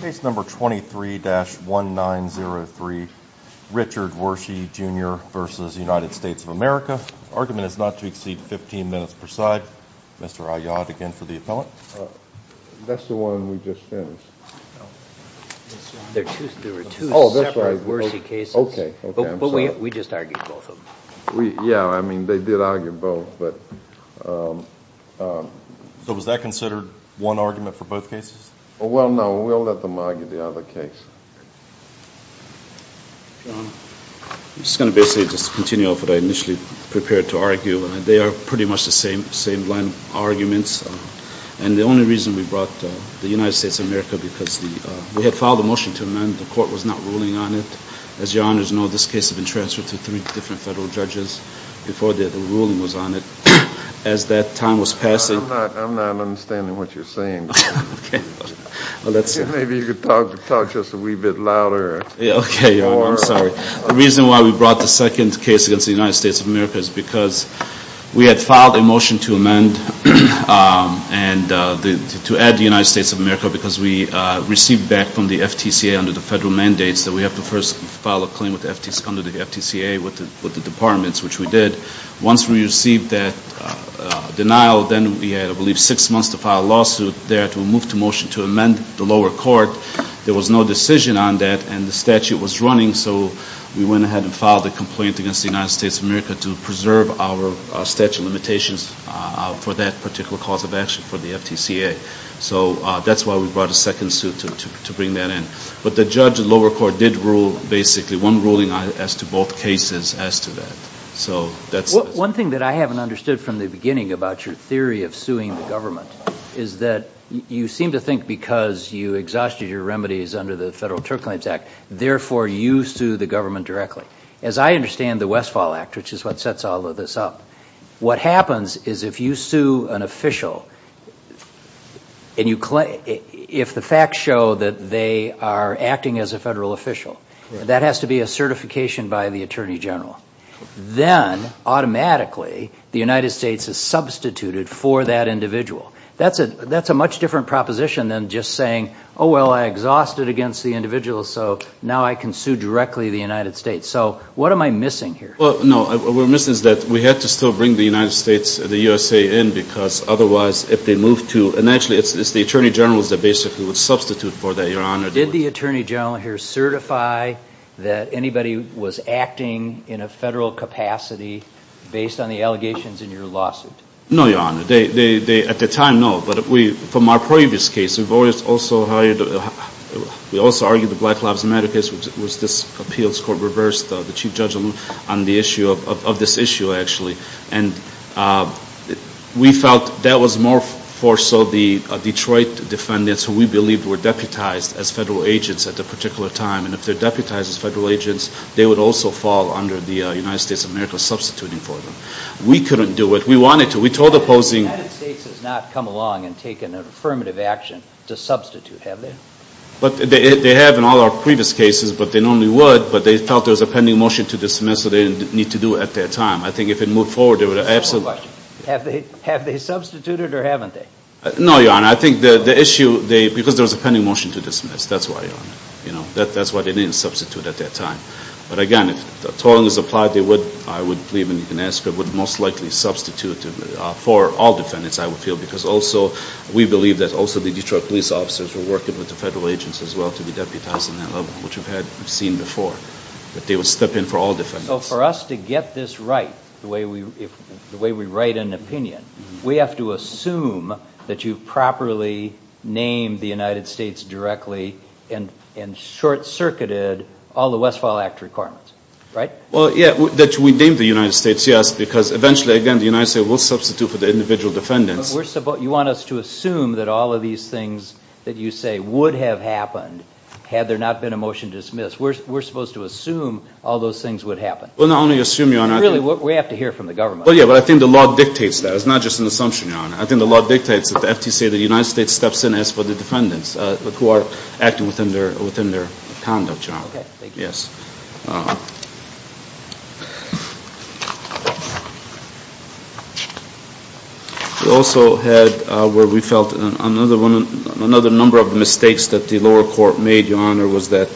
Case number 23-1903 Richard Wershe Jr. v. United States of America. Argument is not to exceed 15 minutes per side. Mr. Aiyad again for the appellant. That's the one we just finished. There were two separate Wershe cases. Okay. But we just argued both of them. Yeah, I mean they did argue both but... So was that considered one argument for both cases? Well, no. We'll let them argue the other case. I'm just going to basically just continue off what I initially prepared to argue. They are pretty much the same, same line arguments. And the only reason we brought the United States of America because we had filed a motion to amend, the court was not ruling on it. As your honors know, this case has been transferred to three different federal judges before the ruling was on it. As that time was passing... I'm not understanding what you're saying. Okay. Maybe you could talk just a wee bit louder. Yeah, okay. I'm sorry. The reason why we brought the second case against the United States of America is because we had filed a motion to amend and to add the United States of America because we received back from the FTCA under the federal mandates that we have to first file a claim with the FTCA with the departments, which we did. Once we received that denial, then we had I want to file a lawsuit there to move to motion to amend the lower court. There was no decision on that and the statute was running, so we went ahead and filed a complaint against the United States of America to preserve our statute limitations for that particular cause of action for the FTCA. So that's why we brought a second suit to bring that in. But the judge, the lower court, did rule basically one ruling as to both cases as to that. So that's... One thing that I haven't understood from the beginning about your theory of suing the is that you seem to think because you exhausted your remedies under the Federal Tort Claims Act, therefore you sue the government directly. As I understand the Westfall Act, which is what sets all of this up, what happens is if you sue an official and you claim... If the facts show that they are acting as a federal official, that has to be a certification by the Attorney General. Then automatically the United States is substituted for that individual. That's a much different proposition than just saying, oh well I exhausted against the individual so now I can sue directly the United States. So what am I missing here? Well no, what we're missing is that we had to still bring the United States and the USA in because otherwise if they move to... And actually it's the Attorney General's that basically would substitute for that, Your Honor. Did the Attorney General here certify that anybody was acting in a federal capacity based on the allegations in your lawsuit? No, Your Honor. At the time, no. But from our previous case, we've always also argued the Black Lives Matter case was this appeals court reversed the Chief Judge on the issue of this issue actually. And we felt that was more so the Detroit defendants who we believed were deputized as federal agents at the particular time. And if they're deputized as federal agents, they would also fall under the United States of America substituting for them. We couldn't do it. We wanted to. We told opposing... The United States has not come along and taken an affirmative action to substitute, have they? But they have in all our previous cases, but they normally would. But they felt there was a pending motion to dismiss so they didn't need to do it at that time. I think if it moved forward, there would have... Have they substituted or haven't they? No, Your Honor. I think the issue, because there was a pending motion to dismiss. That's why, Your Honor. You know, that's why they didn't substitute at that time. But again, as long as applied, they would, I would believe, and you can ask, but would most likely substitute for all defendants, I would feel, because also we believe that also the Detroit police officers were working with the federal agents as well to be deputized in that level, which we've seen before. But they would step in for all defendants. So for us to get this right, the way we write an opinion, we have to assume that you've properly named the United States directly and short-circuited all the Westfall Act requirements, right? Well, yeah, that we named the United States, yes, because eventually, again, the United States will substitute for the individual defendants. You want us to assume that all of these things that you say would have happened had there not been a motion to dismiss. We're supposed to assume all those things would happen. Well, not only assume, Your Honor. Really, we have to hear from the government. Well, yeah, but I think the law dictates that. It's not just an assumption, Your Honor. I think the law dictates that after you say the United States steps in, ask for the defendants who are acting within their conduct, Your Honor. Okay, thank you. Yes. We also had where we felt another one, another number of mistakes that the lower court made, Your Honor, was that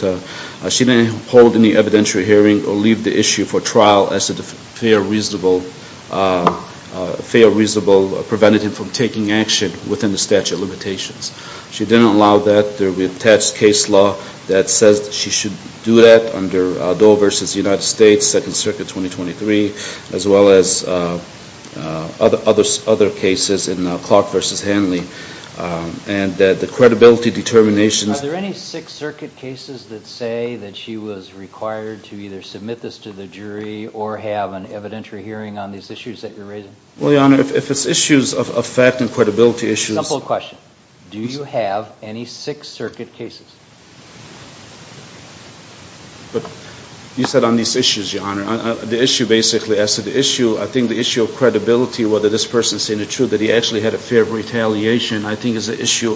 she didn't hold any evidentiary hearing or leave the issue for trial as a within the statute of limitations. She didn't allow that. There will be attached case law that says she should do that under Doe v. United States, Second Circuit 2023, as well as other cases in Clark v. Hanley, and that the credibility determinations... Are there any Sixth Circuit cases that say that she was required to either submit this to the jury or have an evidentiary hearing on these issues that you're raising? Well, Your Honor, if it's issues of effect and credibility issues... Simple question. Do you have any Sixth Circuit cases? But you said on these issues, Your Honor. The issue basically as to the issue, I think the issue of credibility, whether this person's saying the truth, that he actually had a fear of retaliation, I think is an issue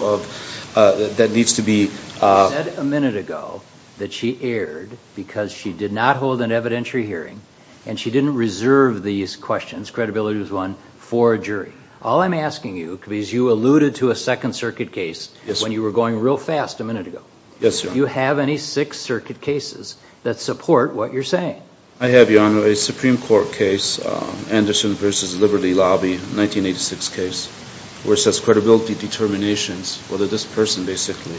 that needs to be... She said a minute ago that she erred because she did not hold an evidentiary hearing, and she didn't reserve these questions, credibility was one, for a jury. All I'm asking you is, you alluded to a Second Circuit case when you were going real fast a minute ago. Yes, Your Honor. Do you have any Sixth Circuit cases that support what you're saying? I have, Your Honor, a Supreme Court case, Anderson v. Liberty Lobby, 1986 case, where it says credibility determinations, whether this person basically...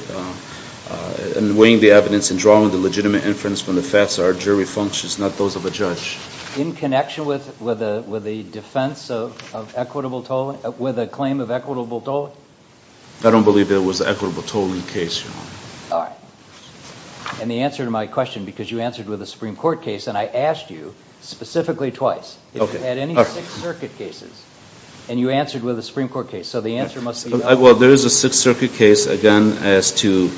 And weighing the evidence and drawing the legitimate inference from the facts are jury functions, not those of a judge. In connection with the defense of equitable tolling, with a claim of equitable tolling? I don't believe there was an equitable tolling case, Your Honor. And the answer to my question, because you answered with a Supreme Court case, and I asked you specifically twice, if you had any Sixth Circuit cases, and you answered with a Supreme Court case, so the answer must be... Well, there is a Sixth Circuit case, again, as to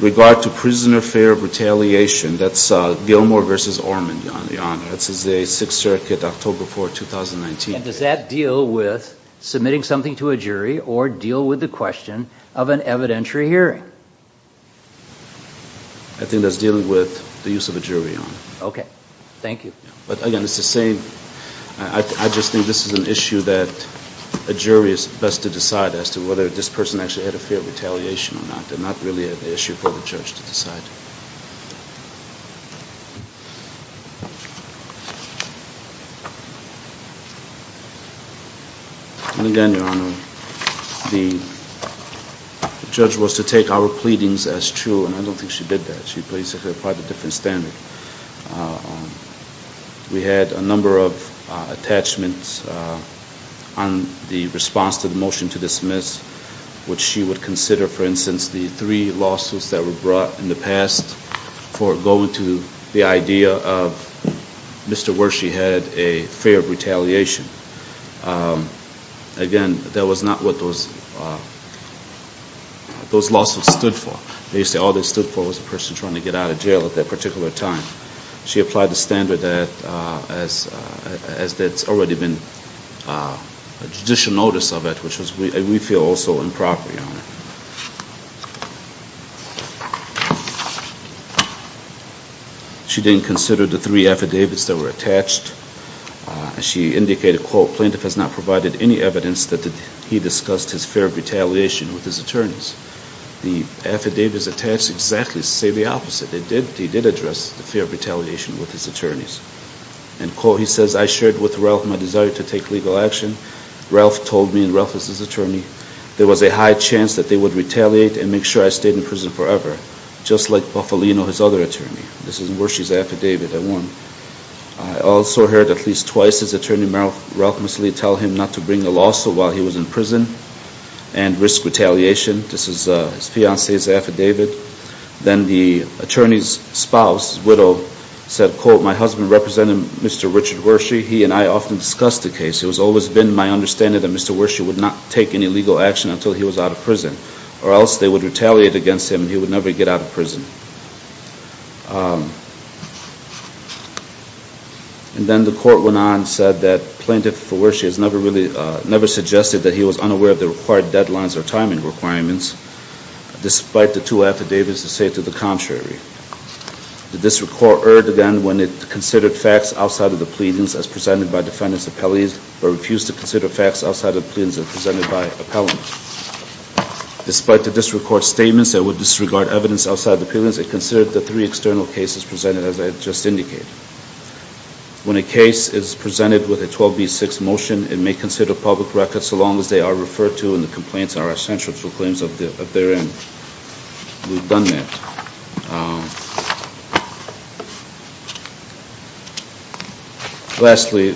regard to prisoner fear of retaliation, that's Gilmore v. Ormond, Your Honor. That's a Sixth Circuit, October 4, 2019. Does that deal with submitting something to a jury or deal with the question of an evidentiary hearing? I think that's dealing with the use of a jury, Your Honor. Okay, thank you. But again, it's the same. I just think this is an issue that a jury is best to decide as to whether this person actually had a fear of retaliation or not. They're not really an issue for the judge to decide. And again, Your Honor, the judge was to take our pleadings as true, and I don't think she did that. She placed it at quite a different standard. We had a number of attachments on the response to the motion to dismiss, which she would consider, for instance, the three lawsuits that were brought in the past for going to the idea of Mr. Wershe had a fear of retaliation. Again, that was not what those lawsuits stood for. They used to say all they stood for was a person trying to get out of jail at that particular time. She applied the standard as that's already been a judicial notice of it, which we feel is also improper, Your Honor. She didn't consider the three affidavits that were attached. She indicated, quote, plaintiff has not provided any evidence that he discussed his fear of retaliation with his attorneys. The affidavits attached exactly say the opposite. They did address the fear of retaliation with his attorneys. And quote, he says, I shared with Ralph my desire to take legal action. Ralph told me, and Ralph is his attorney, there was a high chance that they would retaliate and make sure I stayed in prison forever, just like Bufalino, his other attorney. This is Wershe's affidavit at one. I also heard at least twice his attorney, Merrill Ralph, tell him not to bring a lawsuit while he was in prison and risk retaliation. This is his fiancee's affidavit. Then the attorney's spouse, his widow, said, quote, my husband represented Mr. Richard Wershe. He and I often discussed the case. It has always been my understanding that Mr. Wershe would not take any legal action until he was out of prison, or else they would retaliate against him and he would never get out of prison. And then the court went on and said that plaintiff Wershe has never really, never suggested that he was unaware of the required deadlines or timing requirements, despite the two affidavits that say to the contrary. The district court erred again when it considered facts outside of the pleadings as presented by defendant's appellees, but refused to consider facts outside of the pleadings as presented by appellants. Despite the district court's statements that would disregard evidence outside of the pleadings, it considered the three external cases presented as I just indicated. When a case is presented with a 12B6 motion, it may consider public records so long as they are referred to and the complaints are censored for claims of their end. We've done that. Lastly,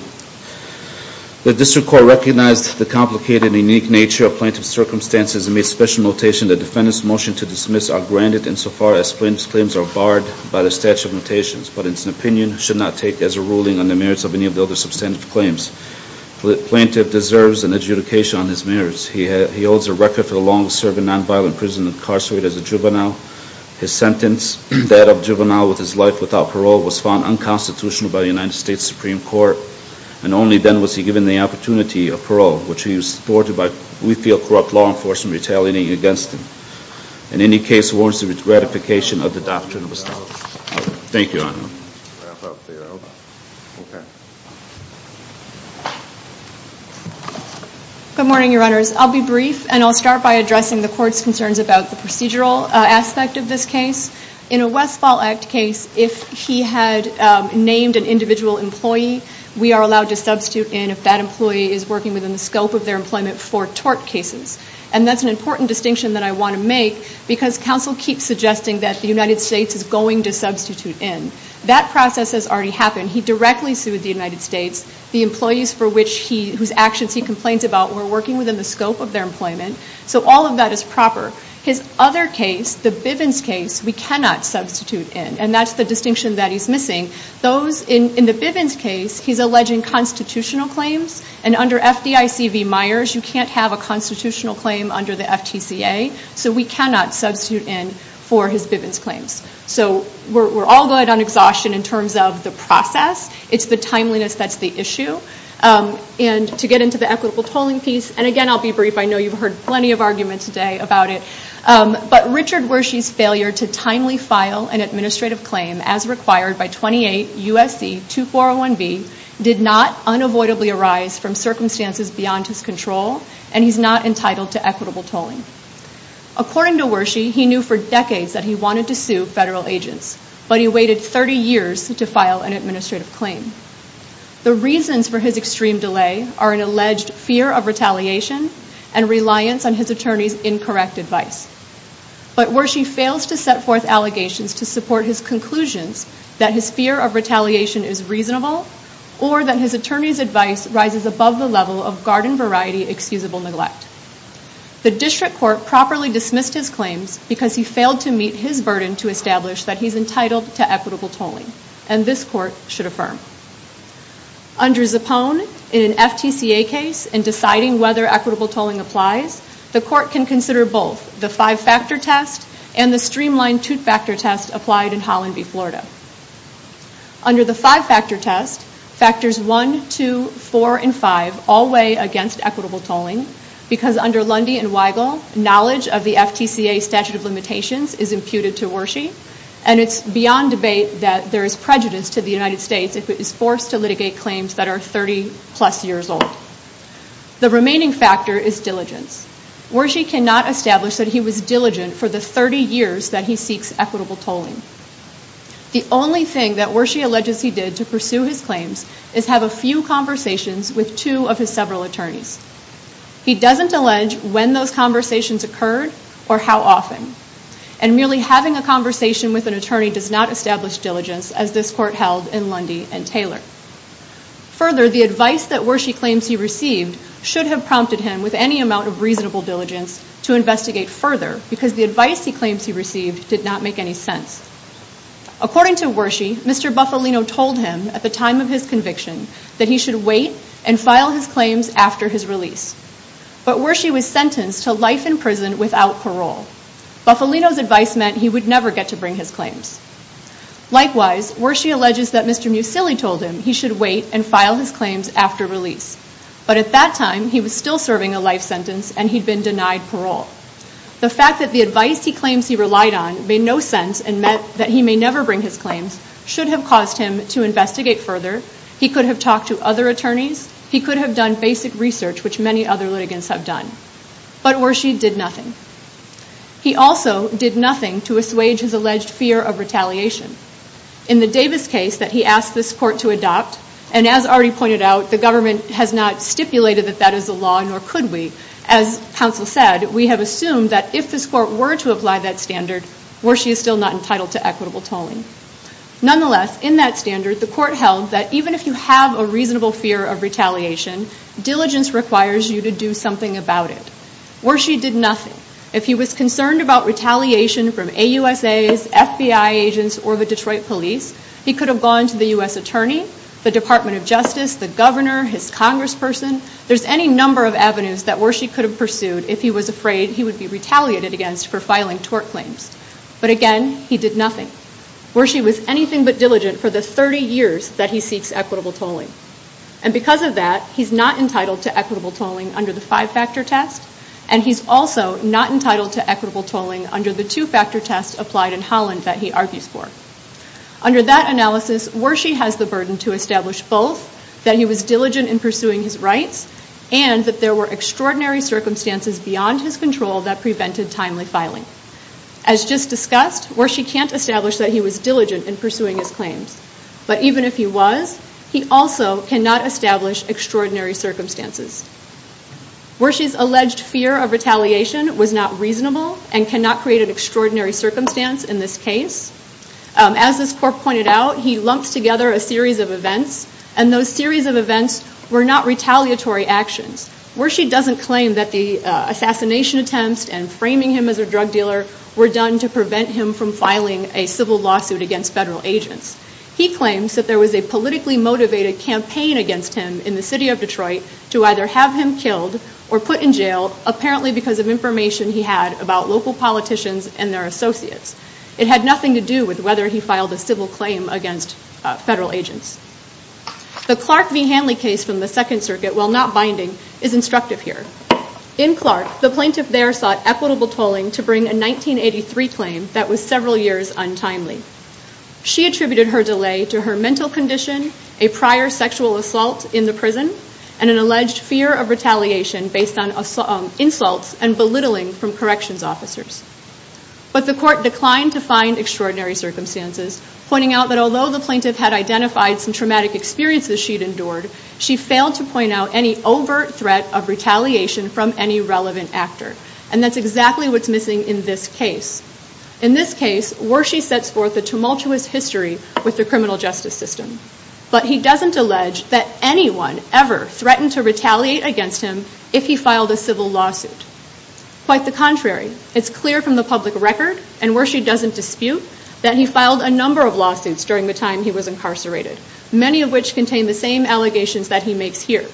the district court recognized the complicated and unique nature of plaintiff's circumstances and made special notation that defendant's motion to dismiss are granted insofar as plaintiff's claims are barred by the statute of notations, but it's an opinion should not take as a ruling on the merits of any of the other substantive claims. The plaintiff deserves an adjudication on his merits. He holds a record for the longest serving nonviolent prison incarcerated as a juvenile. His sentence, that of juvenile with his life without parole, was found unconstitutional by the United States Supreme Court, and only then was he given the opportunity of parole, which he was supported by, we feel, corrupt law enforcement retaliating against him. In any case, warrants the ratification of the doctrine of the statute. Thank you, Your Honor. Good morning, Your Honors. I'll be brief and I'll start by addressing the court's concerns about the procedural aspect of this case. In a Westfall Act case, if he had named an individual employee, we are allowed to substitute in if that employee is working within the scope of their employment for tort cases, and that's an important distinction that I want to make because counsel keeps suggesting that the United States is going to substitute in. That process has already happened. He directly sued the United States. The employees for which he, whose actions he complains about, were working within the scope of their employment, so all of that is proper. His other case, the Bivens case, we cannot substitute in, and that's the distinction that he's missing. Those, in the Bivens case, he's alleging constitutional claims, and under FDIC v. Myers, you can't have a for his Bivens claims. So we're all good on exhaustion in terms of the process. It's the timeliness that's the issue, and to get into the equitable tolling piece, and again I'll be brief. I know you've heard plenty of argument today about it, but Richard Wershe's failure to timely file an administrative claim as required by 28 U.S.C. 2401b did not unavoidably arise from circumstances beyond his control, and he's not entitled to equitable tolling. According to Wershe, he knew for decades that he wanted to sue federal agents, but he waited 30 years to file an administrative claim. The reasons for his extreme delay are an alleged fear of retaliation and reliance on his attorney's incorrect advice, but Wershe fails to set forth allegations to support his conclusions that his fear of retaliation is reasonable, or that his attorney's advice rises above the level of garden variety excusable neglect. The district court properly dismissed his because he failed to meet his burden to establish that he's entitled to equitable tolling, and this court should affirm. Under Zappone, in an FTCA case, in deciding whether equitable tolling applies, the court can consider both the five-factor test and the streamlined two-factor test applied in Holland v. Florida. Under the five-factor test, factors 1, 2, 4, and 5 all weigh against equitable tolling because under Lundy and Weigel, knowledge of the FTCA statute of limitations is imputed to Wershe, and it's beyond debate that there is prejudice to the United States if it is forced to litigate claims that are 30-plus years old. The remaining factor is diligence. Wershe cannot establish that he was diligent for the 30 years that he seeks equitable tolling. The only thing that Wershe alleges he did to pursue his claims is have a few conversations with two of his several attorneys. He doesn't allege when those conversations occurred or how often, and merely having a conversation with an attorney does not establish diligence as this court held in Lundy and Taylor. Further, the advice that Wershe claims he received should have prompted him with any amount of reasonable diligence to investigate further because the advice he claims he received did not make any sense. According to Wershe, Mr. Bufalino told him at the time of his conviction that he should wait and file his claims after his release, but Wershe was sentenced to life in prison without parole. Bufalino's advice meant he would never get to bring his claims. Likewise, Wershe alleges that Mr. Musilli told him he should wait and file his claims after release, but at that time he was still serving a life sentence and he'd been denied parole. The fact that the advice he claims he relied on made no sense and meant that he may never bring his claims should have caused him to investigate further. He could have talked to other attorneys. He could have done basic research, which many other litigants have done, but Wershe did nothing. He also did nothing to assuage his alleged fear of retaliation. In the Davis case that he asked this court to adopt, and as already pointed out, the government has not stipulated that that is the law, nor could we. As counsel said, we have assumed that if this court were to apply that standard, Wershe is still not entitled to equitable tolling. Nonetheless, in that standard, the court held that even if you have a reasonable fear of retaliation, diligence requires you to do something about it. Wershe did nothing. If he was concerned about retaliation from AUSAs, FBI agents, or the Detroit police, he could have gone to the U.S. Attorney, the Department of Justice, the governor, his congressperson. There's any number of avenues that Wershe could have pursued if he was afraid he would be retaliated against for filing tort claims. But again, he did nothing. Wershe was anything but diligent for the 30 years that he seeks equitable tolling. And because of that, he's not entitled to equitable tolling under the five-factor test, and he's also not entitled to equitable tolling under the two-factor test applied in Holland that he argues for. Under that analysis, Wershe has the burden to establish both that he was diligent in pursuing his rights, and that there were extraordinary circumstances beyond his control that prevented timely filing. As just discussed, Wershe can't establish that he was diligent in pursuing his claims. But even if he was, he also cannot establish extraordinary circumstances. Wershe's alleged fear of retaliation was not reasonable and cannot create an extraordinary circumstance in this case. As this court pointed out, he lumps together a series of events, and those series of events were not retaliatory actions. Wershe doesn't claim that the assassination attempts and framing him as a drug dealer were done to prevent him from filing a civil lawsuit against federal agents. He claims that there was a politically motivated campaign against him in the city of Detroit to either have him killed or put in jail, apparently because of information he had about local politicians and their associates. It had nothing to do with whether he filed a civil claim against federal agents. The Clark v. Hanley case from the Second Circuit, while not binding, is instructive here. In Clark, the plaintiff there sought equitable tolling to bring a 1983 claim that was several years untimely. She attributed her delay to her mental condition, a prior sexual assault in the prison, and an alleged fear of retaliation based on insults and belittling from corrections officers. But the court declined to find extraordinary circumstances, pointing out that although the plaintiff had identified some traumatic experiences she'd endured, she failed to point out any overt threat of retaliation from any relevant actor. And that's exactly what's missing in this case. In this case, Wershey sets forth a tumultuous history with the criminal justice system. But he doesn't allege that anyone ever threatened to retaliate against him if he filed a civil lawsuit. Quite the contrary. It's clear from the public record, and Wershey doesn't dispute, that he filed a number of lawsuits during the time he was incarcerated, many of which contain the same allegations that he makes here.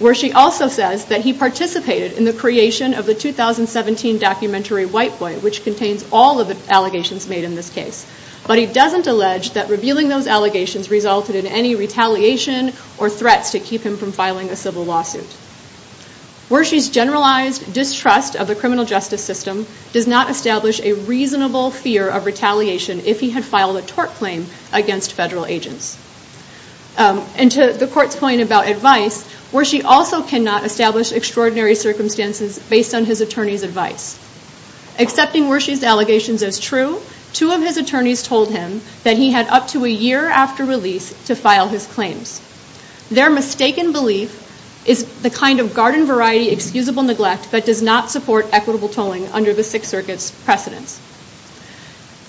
Wershey also says that he participated in the creation of the 2017 documentary White Boy, which contains all of the allegations made in this case. But he doesn't allege that revealing those allegations resulted in any retaliation or threats to keep him from filing a civil lawsuit. Wershey's generalized distrust of the criminal justice system does not establish a reasonable fear of retaliation if he had filed a tort claim against federal agents. And to the court's point about advice, Wershey also cannot establish extraordinary circumstances based on his attorney's advice. Accepting Wershey's allegations as true, two of his attorneys told him that he had up to a year after release to file his claims. Their mistaken belief is the kind of garden variety excusable neglect that does not support equitable tolling under the Sixth Circuit's precedence.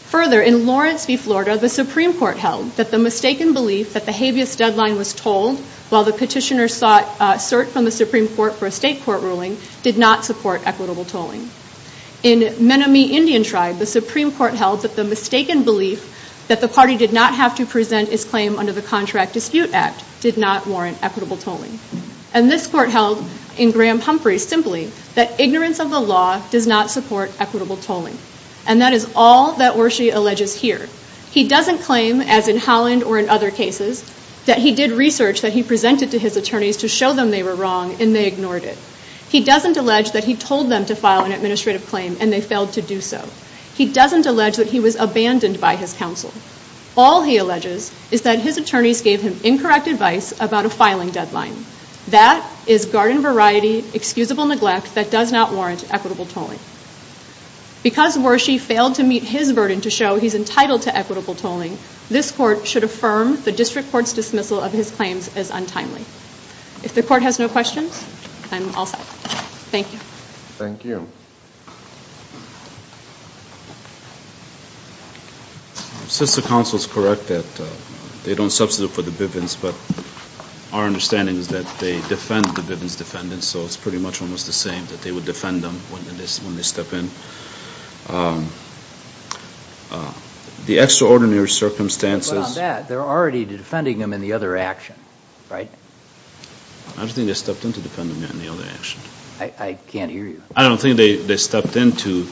Further, in Florence v. Florida, the Supreme Court held that the mistaken belief that the habeas deadline was tolled while the petitioner sought cert from the Supreme Court for a state court ruling did not support equitable tolling. In Menomee Indian Tribe, the Supreme Court held that the mistaken belief that the party did not have to present his claim under the Contract Dispute Act did not warrant equitable tolling. And this court held in Graham-Humphrey simply that ignorance of the law does not support equitable tolling. And that is all that Wershey alleges here. He doesn't claim, as in Holland or in other cases, that he did research that he presented to his attorneys to show them they were wrong and they ignored it. He doesn't allege that he told them to file an administrative claim and they failed to do so. He doesn't allege that he was abandoned by his counsel. All he alleges is that his attorneys gave him incorrect advice about a filing deadline. That is garden variety excusable neglect that does not warrant equitable tolling. Because Wershey failed to meet his burden to show he's entitled to equitable tolling, this court should affirm the district court's dismissal of his claims as untimely. If the court has no questions, I'm all set. Thank you. Thank you. Since the counsel is correct that they don't substitute for the Bivens, but our understanding is that they defend the Bivens defendants, so it's pretty much almost the same, that they would defend them when they step in. The extraordinary circumstances... But on that, they're already defending them in the other action, right? I don't think they stepped in to defend them in the other action. I can't hear you. I don't think they stepped in to.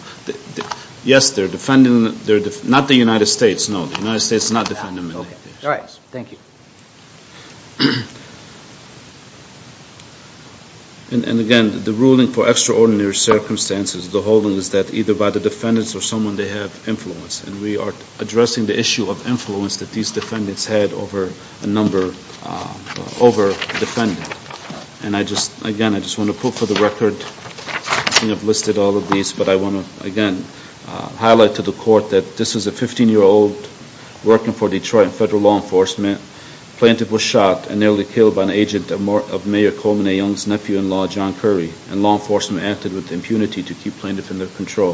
Yes, they're defending, not the United States, no. The United States did not defend them in the other action. All right, thank you. And again, the ruling for extraordinary circumstances, the holding is that either by the defendants or someone they have influence. And we are addressing the issue of influence that these defendants had over a number, over defendants. And I just, again, I just want to put for the record, I think I've listed all of these, but I want to, again, highlight to the court that this is a 15-year-old working for Detroit Federal Law Enforcement. Plaintiff was shot and nearly killed by an agent of Mayor Coleman A. Young's nephew-in-law, John Curry, and law enforcement acted with impunity to keep plaintiff in their control.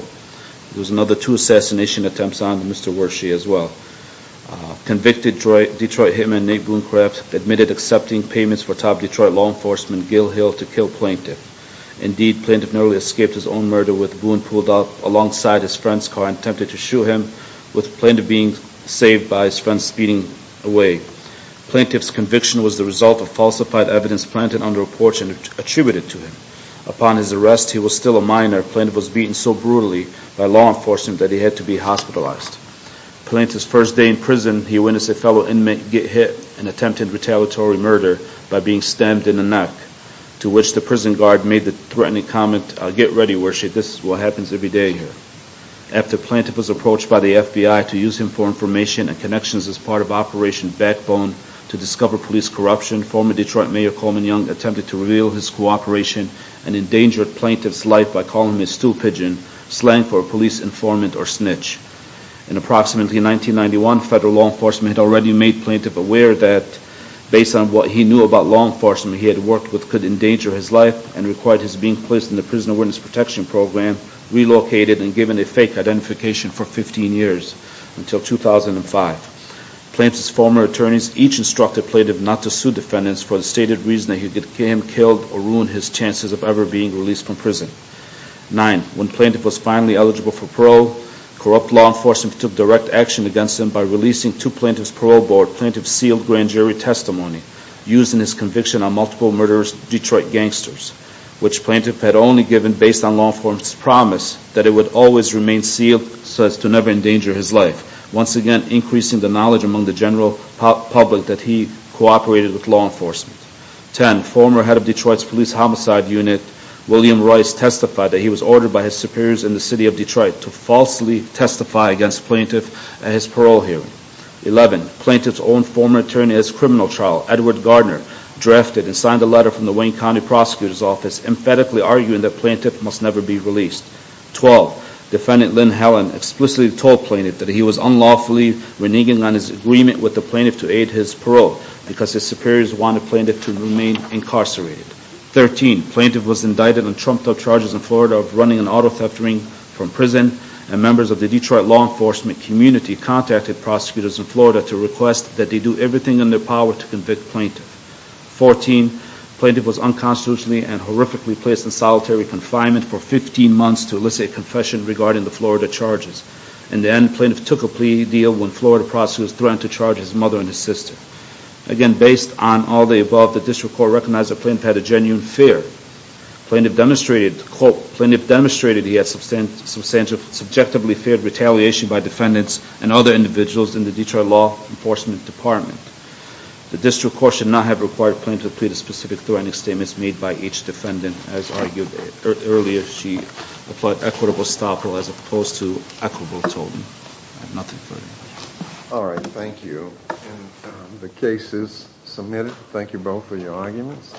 There was another two assassination attempts on Mr. Wershe as well. Convicted Detroit hitman Nate Boonecraft admitted accepting payments for top Detroit law enforcement Gil Hill to kill plaintiff. Indeed, plaintiff nearly escaped his own murder with Boone pulled up alongside his friend's car and attempted to shoot him, with plaintiff being saved by his friend speeding away. Plaintiff's conviction was the result of falsified evidence planted under a porch and attributed to him. Upon his arrest, he was still a minor. Plaintiff was beaten so brutally by law enforcement that he had to be hospitalized. Plaintiff's first day in prison, he witnessed a fellow inmate get hit and attempted retaliatory murder by being stabbed in the neck, to which the prison guard made the threatening comment, get ready Wershe, this is what happens every day here. After plaintiff was approached by the FBI to use him for information and connections as part of Operation Backbone to discover police corruption, former Detroit Mayor Coleman Young attempted to reveal his cooperation and endangered plaintiff's life by calling him a stool pigeon, slang for a police informant or snitch. In approximately 1991, federal law enforcement had already made plaintiff aware that based on what he knew about law enforcement he had worked with could endanger his life and required his being placed in the Prison Awareness Protection Program, relocated and given a fake identification for 15 years until 2005. Plaintiff's former attorneys each instructed plaintiff not to sue defendants for the stated reason that he could kill him or ruin his chances of ever being released from prison. Nine, when plaintiff was finally eligible for parole, corrupt law enforcement took direct action against him by releasing to plaintiff's parole board plaintiff's sealed grand jury testimony using his conviction on multiple murderous Detroit gangsters, which plaintiff had only given based on law enforcement's promise that it would always remain sealed so as to never endanger his life, once again increasing the knowledge among the general public that he cooperated with law enforcement. Ten, former head of Detroit's police homicide unit William Royce testified that he was ordered by his superiors in the city of Detroit to falsely testify against plaintiff at his parole hearing. Eleven, plaintiff's own former attorney as criminal trial Edward Gardner drafted and signed a letter from the Wayne County Prosecutor's Office emphatically arguing that plaintiff must never be released. Twelve, defendant Lynn Helen explicitly told plaintiff that he was unlawfully reneging on his agreement with the plaintiff to aid his parole because his superiors wanted plaintiff to remain incarcerated. Thirteen, plaintiff was indicted on trumped-up charges in Florida of running an auto theft ring from prison and members of the Detroit law enforcement community contacted prosecutors in Florida to request that they do everything in their power to convict plaintiff. Fourteen, plaintiff was unconstitutionally and horrifically placed in solitary confinement for 15 months to elicit confession regarding the Florida charges. In the end, plaintiff took a plea deal when Florida prosecutors threatened to charge his mother and his sister. Again, based on all the above, the district court recognized that plaintiff had a genuine fear. Plaintiff demonstrated, quote, plaintiff demonstrated he had substantial, subjectively feared retaliation by defendants and other individuals in the Detroit law enforcement department. The district court should not have required plaintiff to plead a specific threatening statements made by each defendant as argued earlier. She applied equitable stoppel as opposed to equitable totem. I have nothing further. All right, thank you. The case is submitted. Thank you both for your arguments.